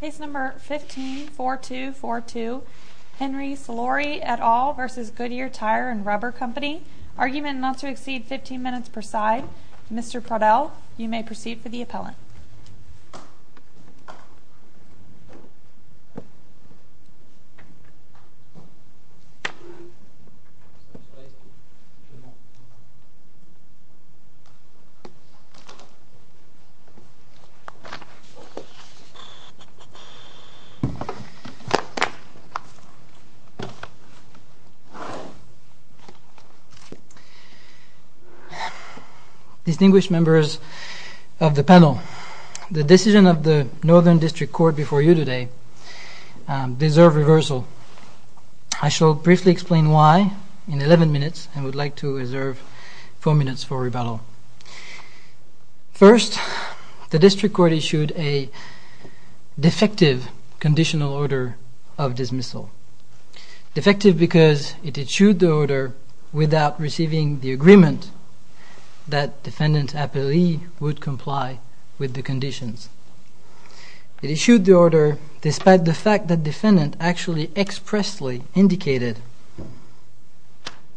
Case No. 15-4242 Henry Solari et al. v. Goodyear Tire and Rubber Co. Argument not to exceed 15 minutes per side. Mr. Prodell, you may proceed for the appellant. Distinguished members of the panel, the decision of the Northern District Court before you today deserved reversal. I shall briefly explain why in 11 minutes and would like to reserve 4 minutes for rebuttal. First, the District Court issued a defective conditional order of dismissal. Defective because it issued the order without receiving the agreement that defendant appellee would comply with the conditions. It issued the order despite the fact that defendant actually expressly indicated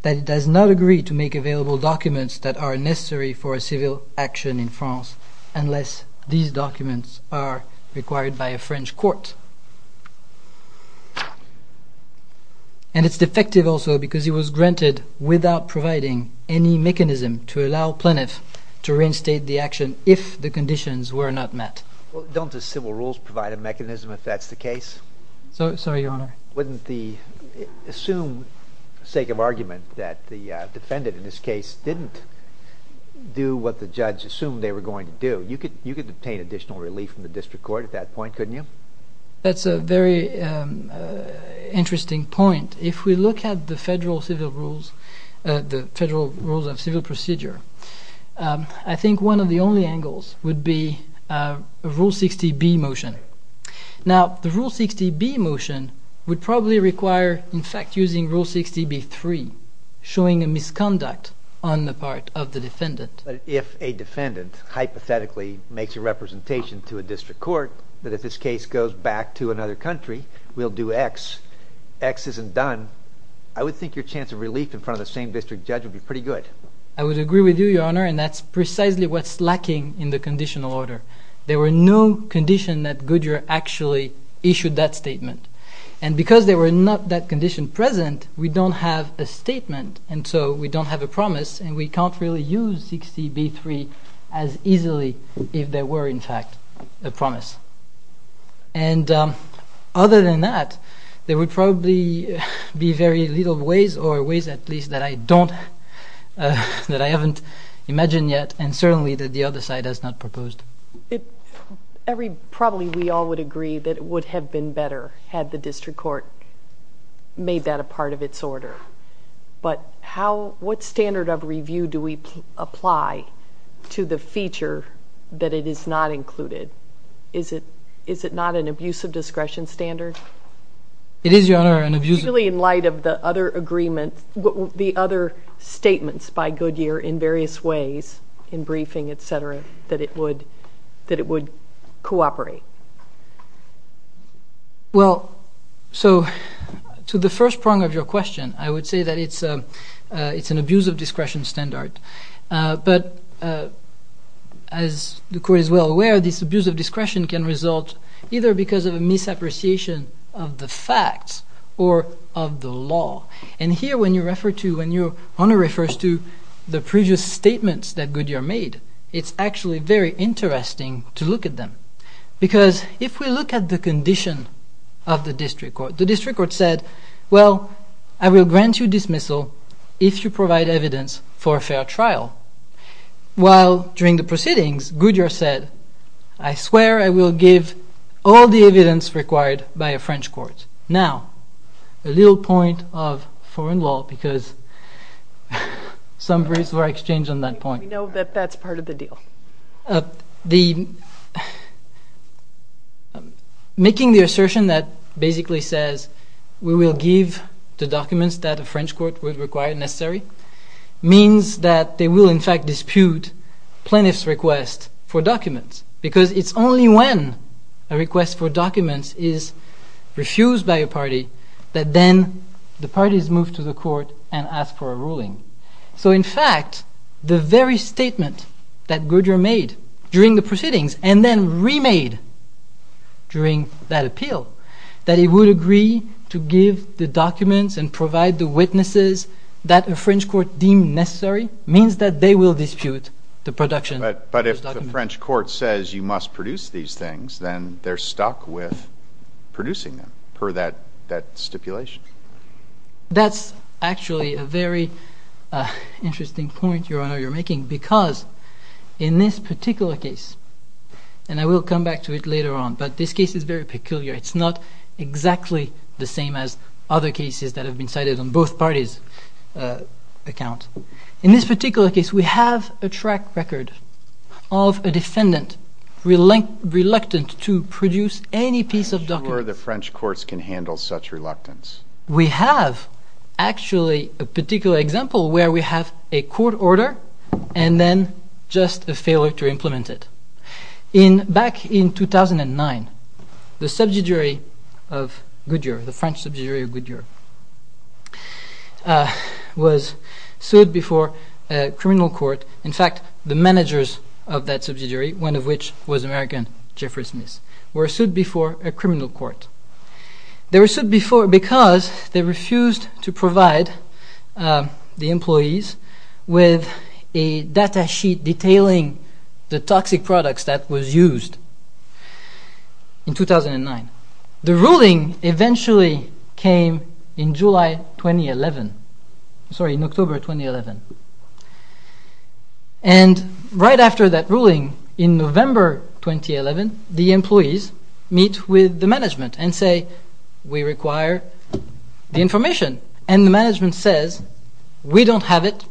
that it does not agree to make available documents that are necessary for a civil action in France unless these documents are required by a French court. And it's defective also because it was granted without providing any mechanism to allow plaintiff to reinstate the action if the conditions were not met. Don't the civil rules provide a mechanism if that's the case? Sorry, Your Honor. Wouldn't the assumed sake of argument that the defendant in this case didn't do what the judge assumed they were going to do, you could obtain additional relief from the District Court at that point, couldn't you? That's a very interesting point. If we look at the federal civil rules, the federal rules of civil procedure, I think one of the only angles would be Rule 60B motion. Now, the Rule 60B motion would probably require, in fact, using Rule 60B3 showing a misconduct on the part of the defendant. But if a defendant hypothetically makes a representation to a District Court that if this case goes back to another country, we'll do X, X isn't done, I would think your chance of relief in front of the same district judge would be pretty good. I would agree with you, Your Honor, and that's precisely what's lacking in the conditional order. There were no condition that Goodyear actually issued that statement. And because there were not that condition present, we don't have a statement, and so we don't have a promise, and we can't really use 60B3 as easily if there were, in fact, a promise. And other than that, there would be no other way to do it. I'm not sure that I can imagine yet, and certainly that the other side has not proposed. Probably we all would agree that it would have been better had the District Court made that a part of its order. But what standard of review do we apply to the feature that it is not included? Is it not an abusive discretion standard? It's really in light of the other agreement, the other statements by Goodyear in various ways, in briefing, et cetera, that it would cooperate. Well, so to the first prong of your question, I would say that it's an abusive discretion standard. But as the Court is well aware, this abuse of discretion can result either because of a misappreciation of the facts or of the law. And here, when your Honour refers to the previous statements that Goodyear made, it's actually very interesting to look at them. Because if we look at the condition of the District Court, the District Court said, well, I will grant you dismissal if you provide evidence for a fair trial. While during the proceedings, Goodyear said, I swear I will give all the evidence required by a French court. Now, a little point of foreign law, because some reasonable exchange on that point. We know that that's part of the deal. Making the assertion that basically says, we will give the documents that a French court would require, necessary, means that they will in fact dispute plaintiff's request for documents. Because it's only when a request for documents is refused by a party, that then the parties move to the court and ask for a ruling. So in fact, the very statement that Goodyear made during the proceedings, and then remade during that appeal, that he would agree to give the documents and provide the witnesses that a French court deemed necessary, means that they will dispute the production of those documents. But if the French court says you must produce these things, then they're stuck with producing them, per that stipulation. That's actually a very interesting point, Your Honor, you're making. Because in this particular case, and I will come back to it later on, but this case is very peculiar. It's not exactly the same as other cases that have been cited on both parties' accounts. In this particular case, we have a track record of a defendant reluctant to produce any piece of documents. I'm not sure the French courts can handle such reluctance. We have actually a particular example where we have a court order and then just a failure to implement it. Back in 2009, the French subsidiary of Goodyear was sued before a criminal court. In fact, the managers of that subsidiary, one of which was American, Jeffrey Smith, were sued before a criminal court. They were sued because they refused to provide the employees with a data sheet detailing the toxic products that was used in 2009. The ruling eventually came in October 2011. Right after that ruling, in November 2011, the employees meet with the management and say, we require the information. The management says, we don't have it.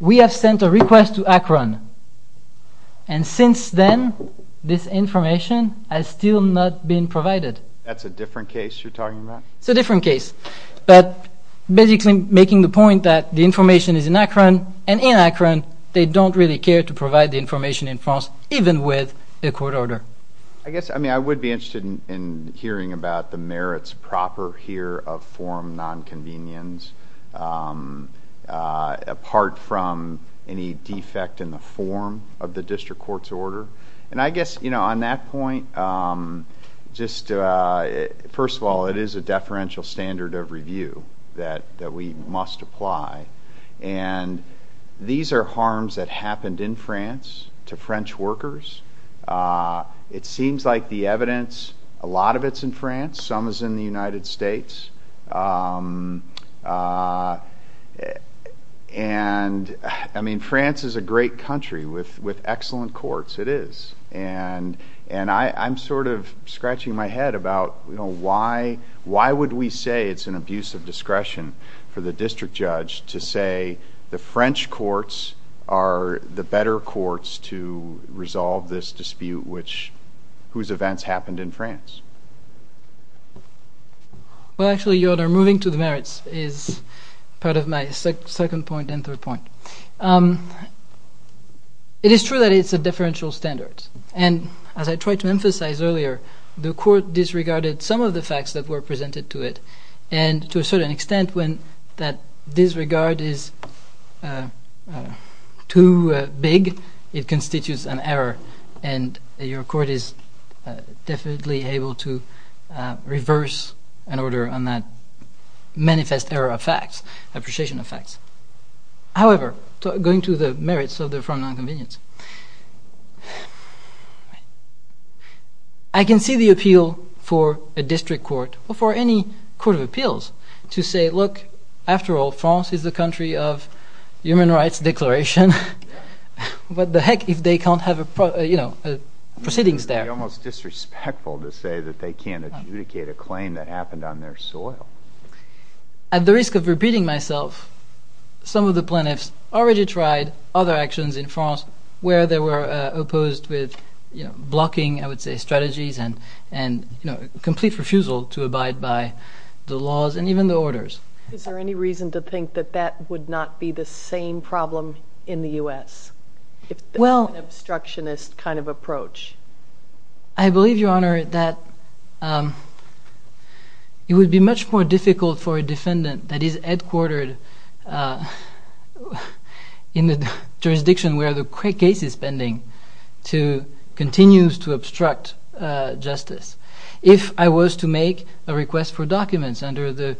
We have sent a request to Akron, and since then, this information has still not been provided. That's a different case you're talking about? It's a different case, but basically making the point that the information is in Akron, and in Akron, they don't really care to provide the information in France, even with a court order. I would be interested in hearing about the merits proper here of form nonconvenience, apart from any defect in the form of the district court's order. I guess on that point, first of all, it is a deferential standard of review that we must apply. These are harms that happened in France to French workers. It seems like the evidence, a lot of it's in France. Some is in the United States. France is a great country with excellent courts. It is. I'm scratching my head about why would we say it's an abuse of discretion for the district judge to say the French courts are the better courts to resolve this dispute whose events happened in France? Well, actually, Your Honor, moving to the merits is part of my second point and third point. It is true that it's a deferential standard, and as I tried to emphasize earlier, the court disregarded some of the facts that were presented to it, and to a certain extent when that disregard is too big, it constitutes an error, and your court is definitely able to reverse an order on that manifest error of facts, appreciation of facts. However, going to the merits of the form nonconvenience, I can see the appeal for a district court or for any court of appeals to say, look, after all, France is the country of human rights declaration. What the heck if they can't have proceedings there? It would be almost disrespectful to say that they can't adjudicate a claim that happened on their soil. At the risk of repeating myself, some of the plaintiffs already tried other actions in France where they were opposed with blocking, I would say, strategies and complete refusal to abide by the laws and even the orders. Is there any reason to think that that would not be the same problem in the U.S., if it's an obstructionist kind of approach? I believe, Your Honor, that it would be much more difficult for a defendant that is headquartered in the jurisdiction where the case is pending to continue to obstruct justice. If I was to make a request for documents under the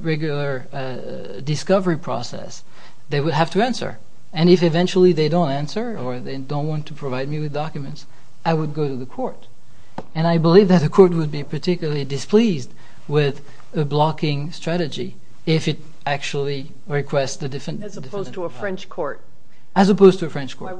regular discovery process, they would have to answer. And if eventually they don't answer or they don't want to provide me with documents, I would go to the court. And I believe that the court would be particularly displeased with a blocking strategy if it actually requests the defendant to comply. As opposed to a French court? As opposed to a French court.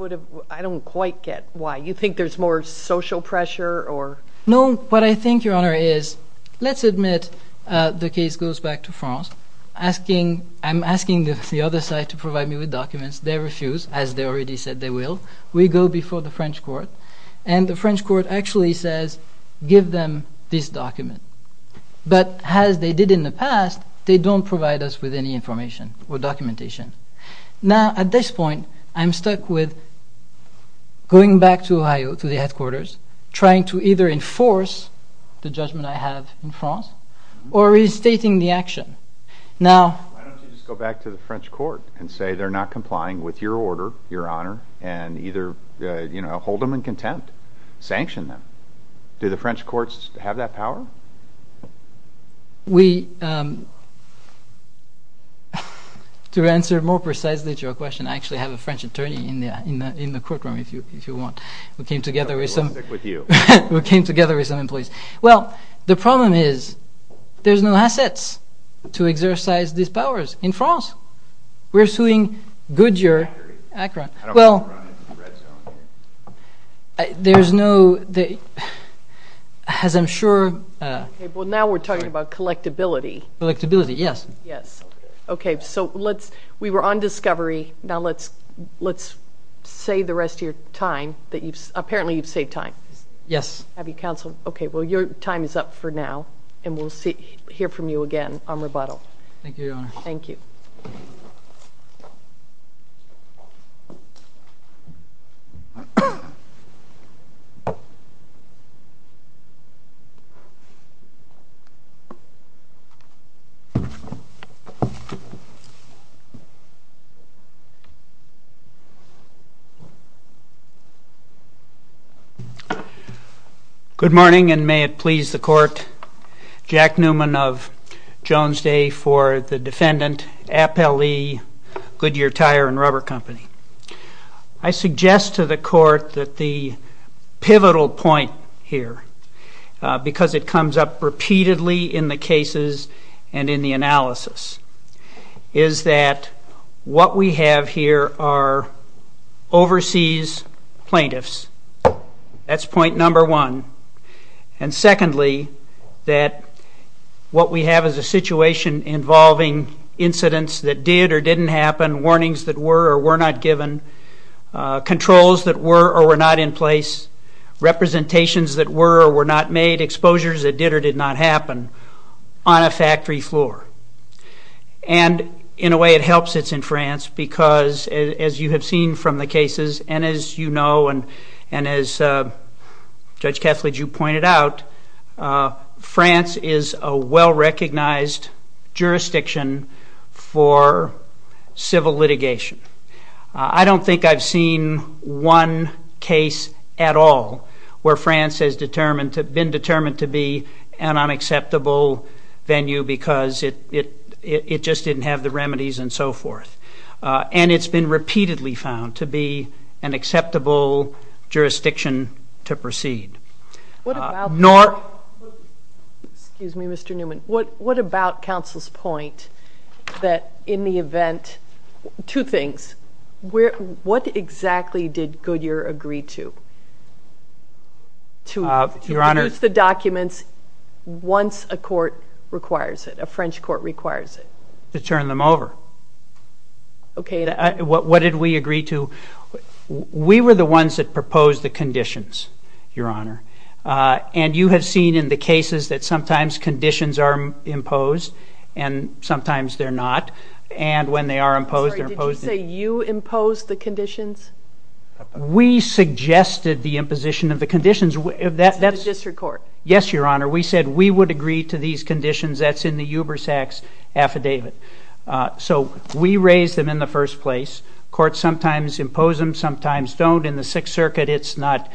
I don't quite get why. You think there's more social pressure? No. What I think, Your Honor, is let's admit the case goes back to France. I'm asking the other side to provide me with documents. They refuse, as they already said they will. We go before the French court, and the French court actually says, give them this document. But as they did in the past, they don't provide us with any information or documentation. Now, at this point, I'm stuck with going back to Ohio, to the headquarters, trying to either enforce the judgment I have in France or reinstating the action. Why don't you just go back to the French court and say they're not complying with your order, Your Honor, and either hold them in contempt, sanction them? Do the French courts have that power? To answer more precisely to your question, I actually have a French attorney in the courtroom, if you want, who came together with some employees. Well, the problem is there's no assets to exercise these powers in France. We're suing Goodyear, Akron. Well, there's no, as I'm sure. Well, now we're talking about collectability. Collectability, yes. Okay, so we were on discovery. Now let's save the rest of your time. Apparently, you've saved time. Yes. Okay, well, your time is up for now, and we'll hear from you again on rebuttal. Thank you, Your Honor. Thank you. Good morning, and may it please the court. Jack Newman of Jones Day for the defendant, Appellee Goodyear Tire and Rubber Company. I suggest to the court that the pivotal point here, because it comes up repeatedly in the cases and in the analysis, is that what we have here are overseas plaintiffs. That's point number one. And secondly, that what we have is a situation involving incidents that did or didn't happen, warnings that were or were not given, controls that were or were not in place, representations that were or were not made, exposures that did or did not happen on a factory floor. And in a way, it helps it's in France because, as you have seen from the cases and as you know and as Judge Kethledge, you pointed out, France is a well-recognized jurisdiction for civil litigation. I don't think I've seen one case at all where France has been determined to be an unacceptable venue because it just didn't have the remedies and so forth. And it's been repeatedly found to be an acceptable jurisdiction to proceed. Excuse me, Mr. Newman. What about counsel's point that in the event, two things, what exactly did Goodyear agree to, to produce the documents once a court requires it, a French court requires it? To turn them over. Okay. What did we agree to? We were the ones that proposed the conditions, Your Honor. And you have seen in the cases that sometimes conditions are imposed and sometimes they're not. And when they are imposed, they're imposed. Sorry, did you say you imposed the conditions? We suggested the imposition of the conditions. That's in the district court. Yes, Your Honor. We said we would agree to these conditions. That's in the Ubersax affidavit. So we raised them in the first place. Courts sometimes impose them, sometimes don't. In the Sixth Circuit, it's not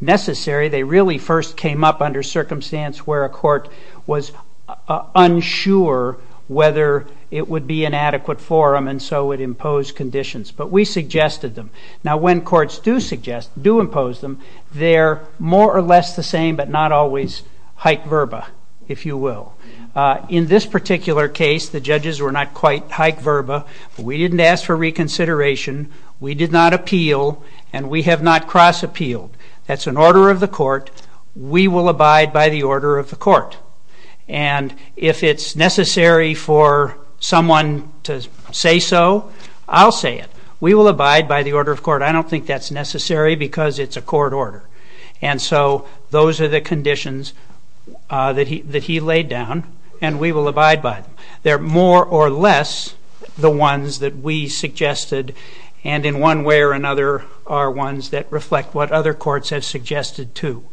necessary. They really first came up under circumstance where a court was unsure whether it would be an adequate forum and so it imposed conditions. But we suggested them. Now, when courts do suggest, do impose them, they're more or less the same but not always hike verba, if you will. In this particular case, the judges were not quite hike verba. We didn't ask for reconsideration. We did not appeal. And we have not cross-appealed. That's an order of the court. We will abide by the order of the court. And if it's necessary for someone to say so, I'll say it. We will abide by the order of court. I don't think that's necessary because it's a court order. And so those are the conditions that he laid down, and we will abide by them. They're more or less the ones that we suggested, and in one way or another are ones that reflect what other courts have suggested too.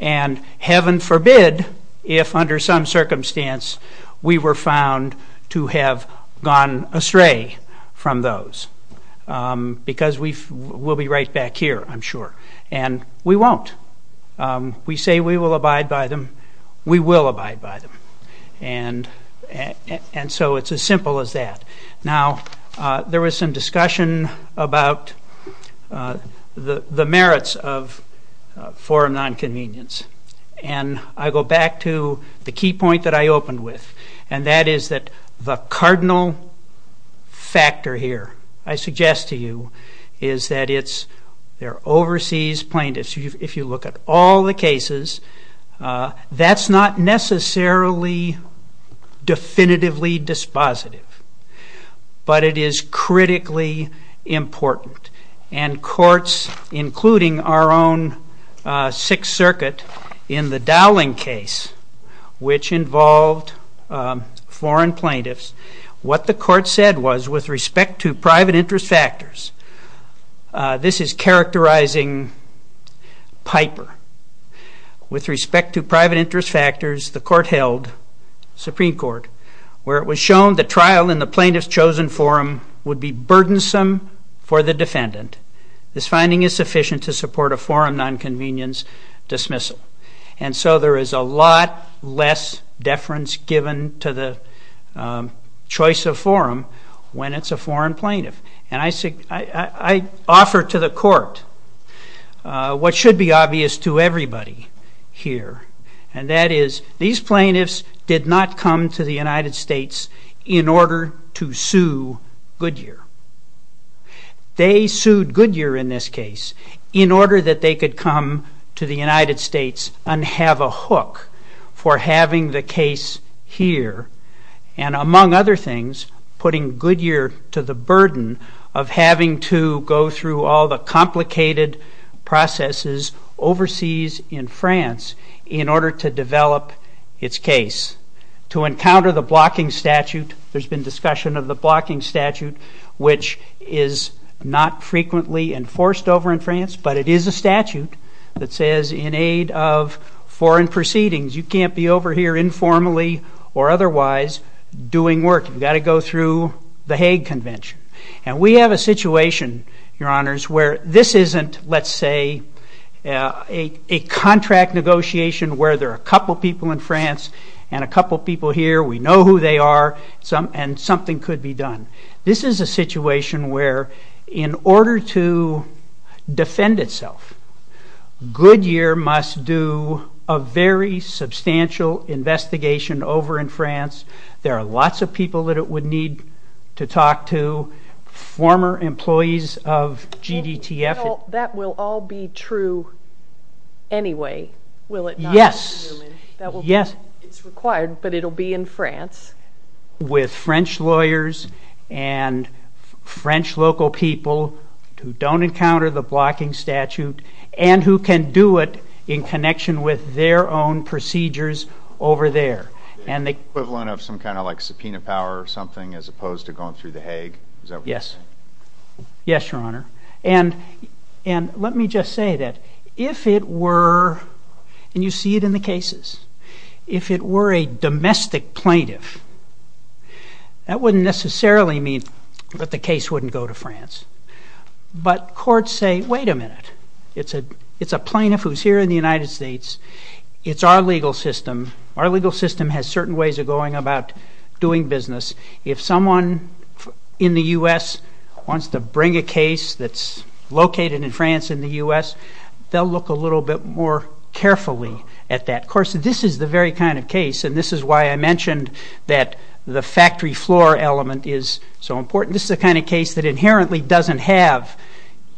And heaven forbid if under some circumstance we were found to have gone astray from those because we'll be right back here, I'm sure. And we won't. We say we will abide by them. We will abide by them. And so it's as simple as that. Now, there was some discussion about the merits of forum nonconvenience, and I go back to the key point that I opened with, and that is that the cardinal factor here I suggest to you is that it's their overseas plaintiffs. If you look at all the cases, that's not necessarily definitively dispositive, but it is critically important. And courts, including our own Sixth Circuit in the Dowling case, which involved foreign plaintiffs, what the court said was with respect to private interest factors, this is characterizing Piper. With respect to private interest factors, the court held, Supreme Court, where it was shown the trial in the plaintiff's chosen forum would be burdensome for the defendant. This finding is sufficient to support a forum nonconvenience dismissal. And so there is a lot less deference given to the choice of forum when it's a foreign plaintiff. And I offer to the court what should be obvious to everybody here, and that is these plaintiffs did not come to the United States in order to sue Goodyear. They sued Goodyear in this case in order that they could come to the United States and have a hook for having the case here, and among other things, putting Goodyear to the burden of having to go through all the complicated processes overseas in France in order to develop its case. To encounter the blocking statute, there's been discussion of the blocking statute, which is not frequently enforced over in France, but it is a statute that says in aid of foreign proceedings, you can't be over here informally or otherwise doing work. You've got to go through the Hague Convention. And we have a situation, Your Honors, where this isn't, let's say, a contract negotiation where there are a couple people in France and a couple people here, we know who they are, and something could be done. This is a situation where in order to defend itself, Goodyear must do a very substantial investigation over in France. There are lots of people that it would need to talk to, former employees of GDTF. That will all be true anyway, will it not? Yes. It's required, but it will be in France. With French lawyers and French local people who don't encounter the blocking statute and who can do it in connection with their own procedures over there. And the equivalent of some kind of like subpoena power or something as opposed to going through the Hague? Yes. Yes, Your Honor. And let me just say that if it were, and you see it in the cases, if it were a domestic plaintiff, that wouldn't necessarily mean that the case wouldn't go to France. But courts say, wait a minute, it's a plaintiff who's here in the United States, it's our legal system, our legal system has certain ways of going about doing business. If someone in the U.S. wants to bring a case that's located in France in the U.S., they'll look a little bit more carefully at that. Of course, this is the very kind of case, and this is why I mentioned that the factory floor element is so important. This is the kind of case that inherently doesn't have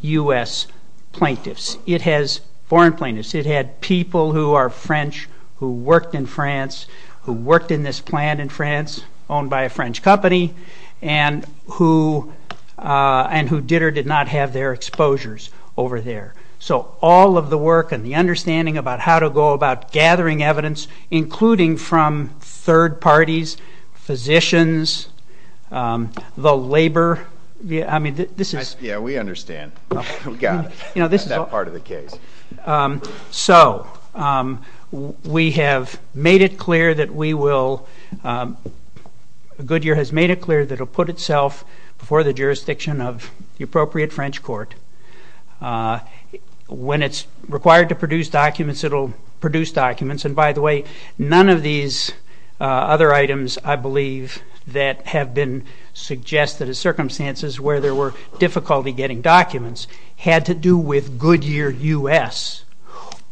U.S. plaintiffs. It has foreign plaintiffs. It had people who are French who worked in France, who worked in this plant in France, owned by a French company, and who did or did not have their exposures over there. So all of the work and the understanding about how to go about gathering evidence, including from third parties, physicians, the labor. Yeah, we understand. We got it on that part of the case. So we have made it clear that we will, Goodyear has made it clear that it will put itself before the jurisdiction of the appropriate French court. When it's required to produce documents, it will produce documents. And by the way, none of these other items, I believe, that have been suggested as circumstances where there were difficulty getting documents had to do with Goodyear U.S.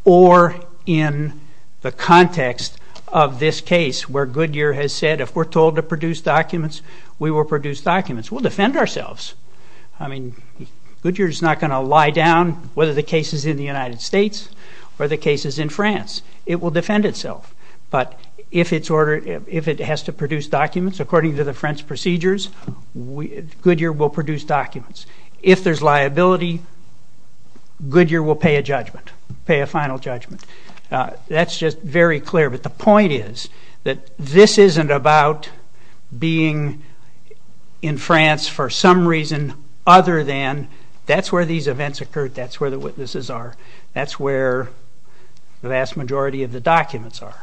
or in the context of this case where Goodyear has said, if we're told to produce documents, we will produce documents. We'll defend ourselves. I mean, Goodyear is not going to lie down whether the case is in the United States or the case is in France. It will defend itself. But if it has to produce documents according to the French procedures, Goodyear will produce documents. If there's liability, Goodyear will pay a judgment, pay a final judgment. That's just very clear. But the point is that this isn't about being in France for some reason other than that's where these events occurred, that's where the witnesses are, that's where the vast majority of the documents are.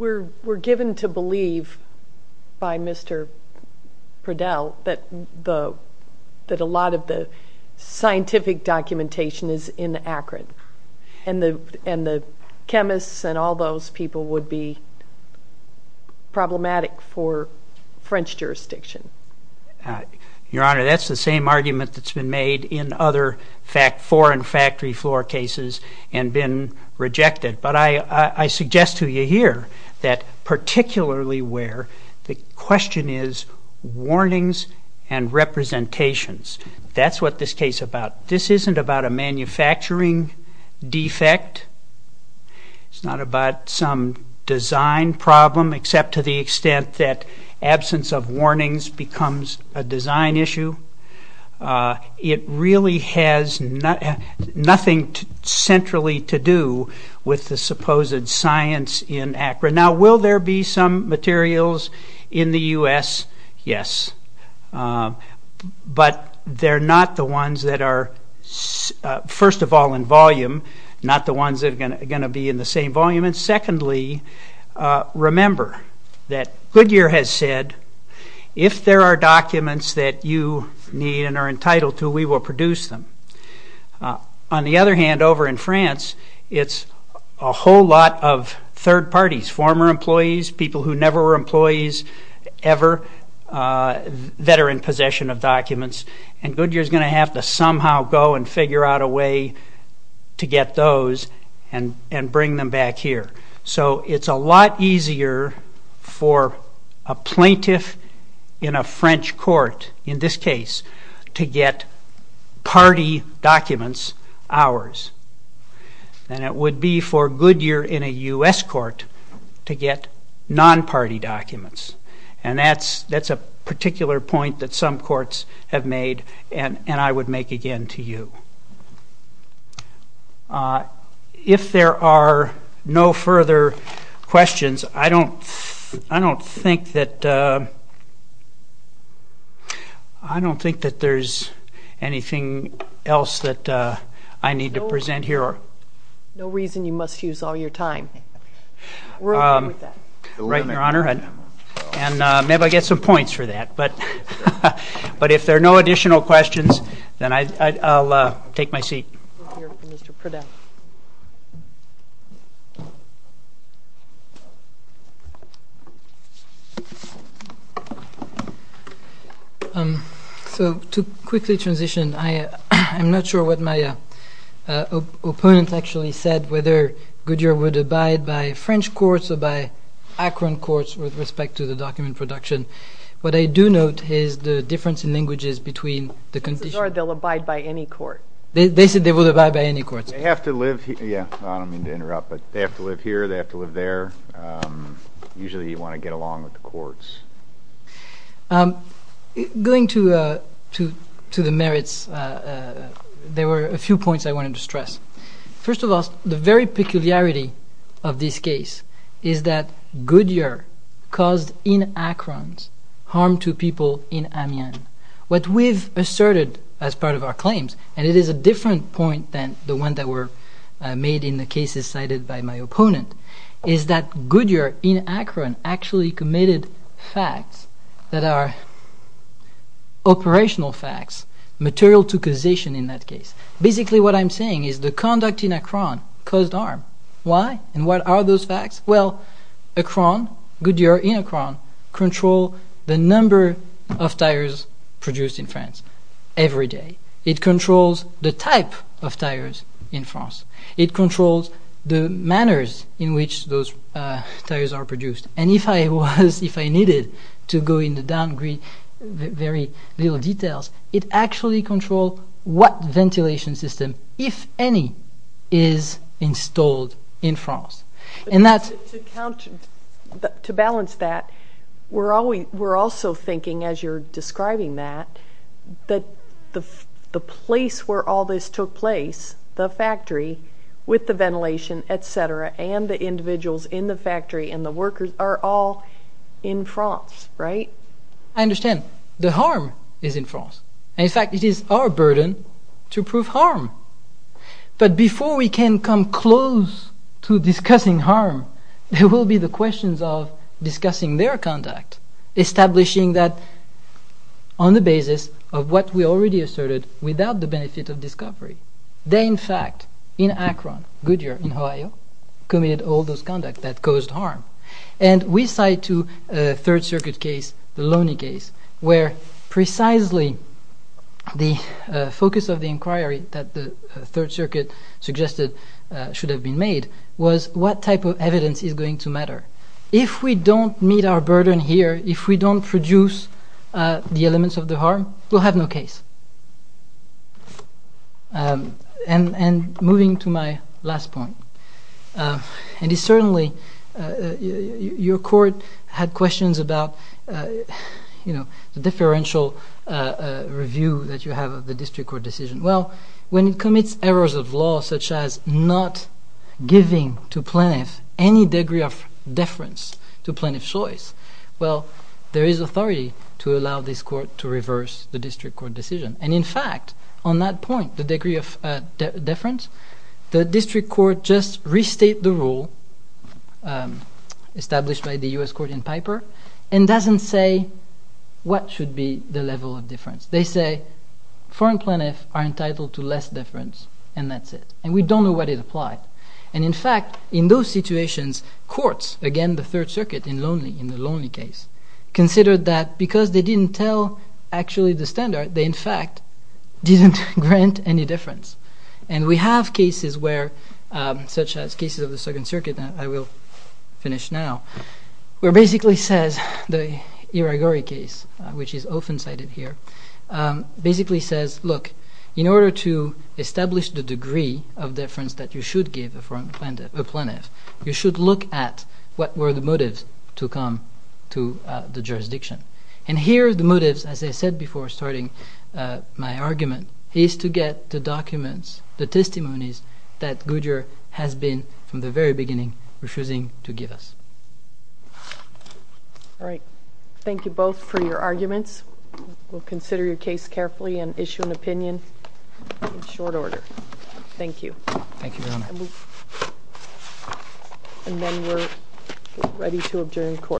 We're given to believe by Mr. Pridell that a lot of the scientific documentation is in Akron and the chemists and all those people would be problematic for French jurisdiction. Your Honor, that's the same argument that's been made in other foreign factory floor cases and been rejected. But I suggest to you here that particularly where the question is warnings and representations. That's what this case is about. This isn't about a manufacturing defect. It's not about some design problem except to the extent that absence of warnings becomes a design issue. It really has nothing centrally to do with the supposed science in Akron. Now, will there be some materials in the U.S.? Yes. But they're not the ones that are first of all in volume, not the ones that are going to be in the same volume. Secondly, remember that Goodyear has said, if there are documents that you need and are entitled to, we will produce them. On the other hand, over in France, it's a whole lot of third parties, former employees, people who never were employees ever that are in possession of documents, and Goodyear is going to have to somehow go and figure out a way to get those and bring them back here. So it's a lot easier for a plaintiff in a French court, in this case, to get party documents, ours, than it would be for Goodyear in a U.S. court to get non-party documents. And that's a particular point that some courts have made, and I would make again to you. If there are no further questions, I don't think that there's anything else that I need to present here. No reason you must use all your time. We're okay with that. Right, Your Honor. And maybe I'll get some points for that. But if there are no additional questions, then I'll take my seat. So to quickly transition, I'm not sure what my opponent actually said, whether Goodyear would abide by French courts or by Akron courts with respect to the document production. What I do note is the difference in languages between the conditions. They'll abide by any court. They said they would abide by any court. They have to live here. I don't mean to interrupt, but they have to live here. They have to live there. Usually you want to get along with the courts. Going to the merits, there were a few points I wanted to stress. First of all, the very peculiarity of this case is that Goodyear caused in Akron harm to people in Amiens. What we've asserted as part of our claims, and it is a different point than the one that were made in the cases cited by my opponent, is that Goodyear in Akron actually committed facts that are operational facts, material to causation in that case. Basically what I'm saying is the conduct in Akron caused harm. Why? And what are those facts? Well, Akron, Goodyear in Akron, controls the number of tires produced in France every day. It controls the type of tires in France. It controls the manners in which those tires are produced. And if I needed to go into very little detail, it actually controls what ventilation system, if any, is installed in France. To balance that, we're also thinking, as you're describing that, that the place where all this took place, the factory, with the ventilation, etc., and the individuals in the factory, and the workers, are all in France, right? I understand. The harm is in France. In fact, it is our burden to prove harm. But before we can come close to discussing harm, there will be the questions of discussing their conduct, establishing that on the basis of what we already asserted without the benefit of discovery. They, in fact, in Akron, Goodyear, in Ohio, committed all those conducts that caused harm. And we cite to a Third Circuit case, the Loney case, where precisely the focus of the inquiry that the Third Circuit suggested should have been made was what type of evidence is going to matter. If we don't meet our burden here, if we don't produce the elements of the harm, we'll have no case. And moving to my last point, and it's certainly, your court had questions about the differential review that you have of the district court decision. Well, when it commits errors of law such as not giving to plaintiffs any degree of deference to plaintiff's choice, well, there is authority to allow this court to reverse the district court decision. And in fact, on that point, the degree of deference, the district court just restates the rule established by the U.S. court in Piper, and doesn't say what should be the level of deference. They say, foreign plaintiffs are entitled to less deference, and that's it. And we don't know what is applied. And in fact, in those situations, courts, again, the Third Circuit in Loney, in the Loney case, considered that because they didn't tell actually the standard, they in fact didn't grant any deference. And we have cases where, such as cases of the Second Circuit that I will finish now, where basically says the Iragori case, which is often cited here, basically says, look, in order to establish the degree of deference that you should give a foreign plaintiff, a plaintiff, you should look at what were the motives to come to the jurisdiction. And here are the motives, as I said before starting my argument, is to get the documents, the testimonies that Goodyear has been, from the very beginning, refusing to give us. All right. Thank you both for your arguments. We'll consider your case carefully and issue an opinion in short order. Thank you. Thank you, Your Honor. And then we're ready to adjourn court.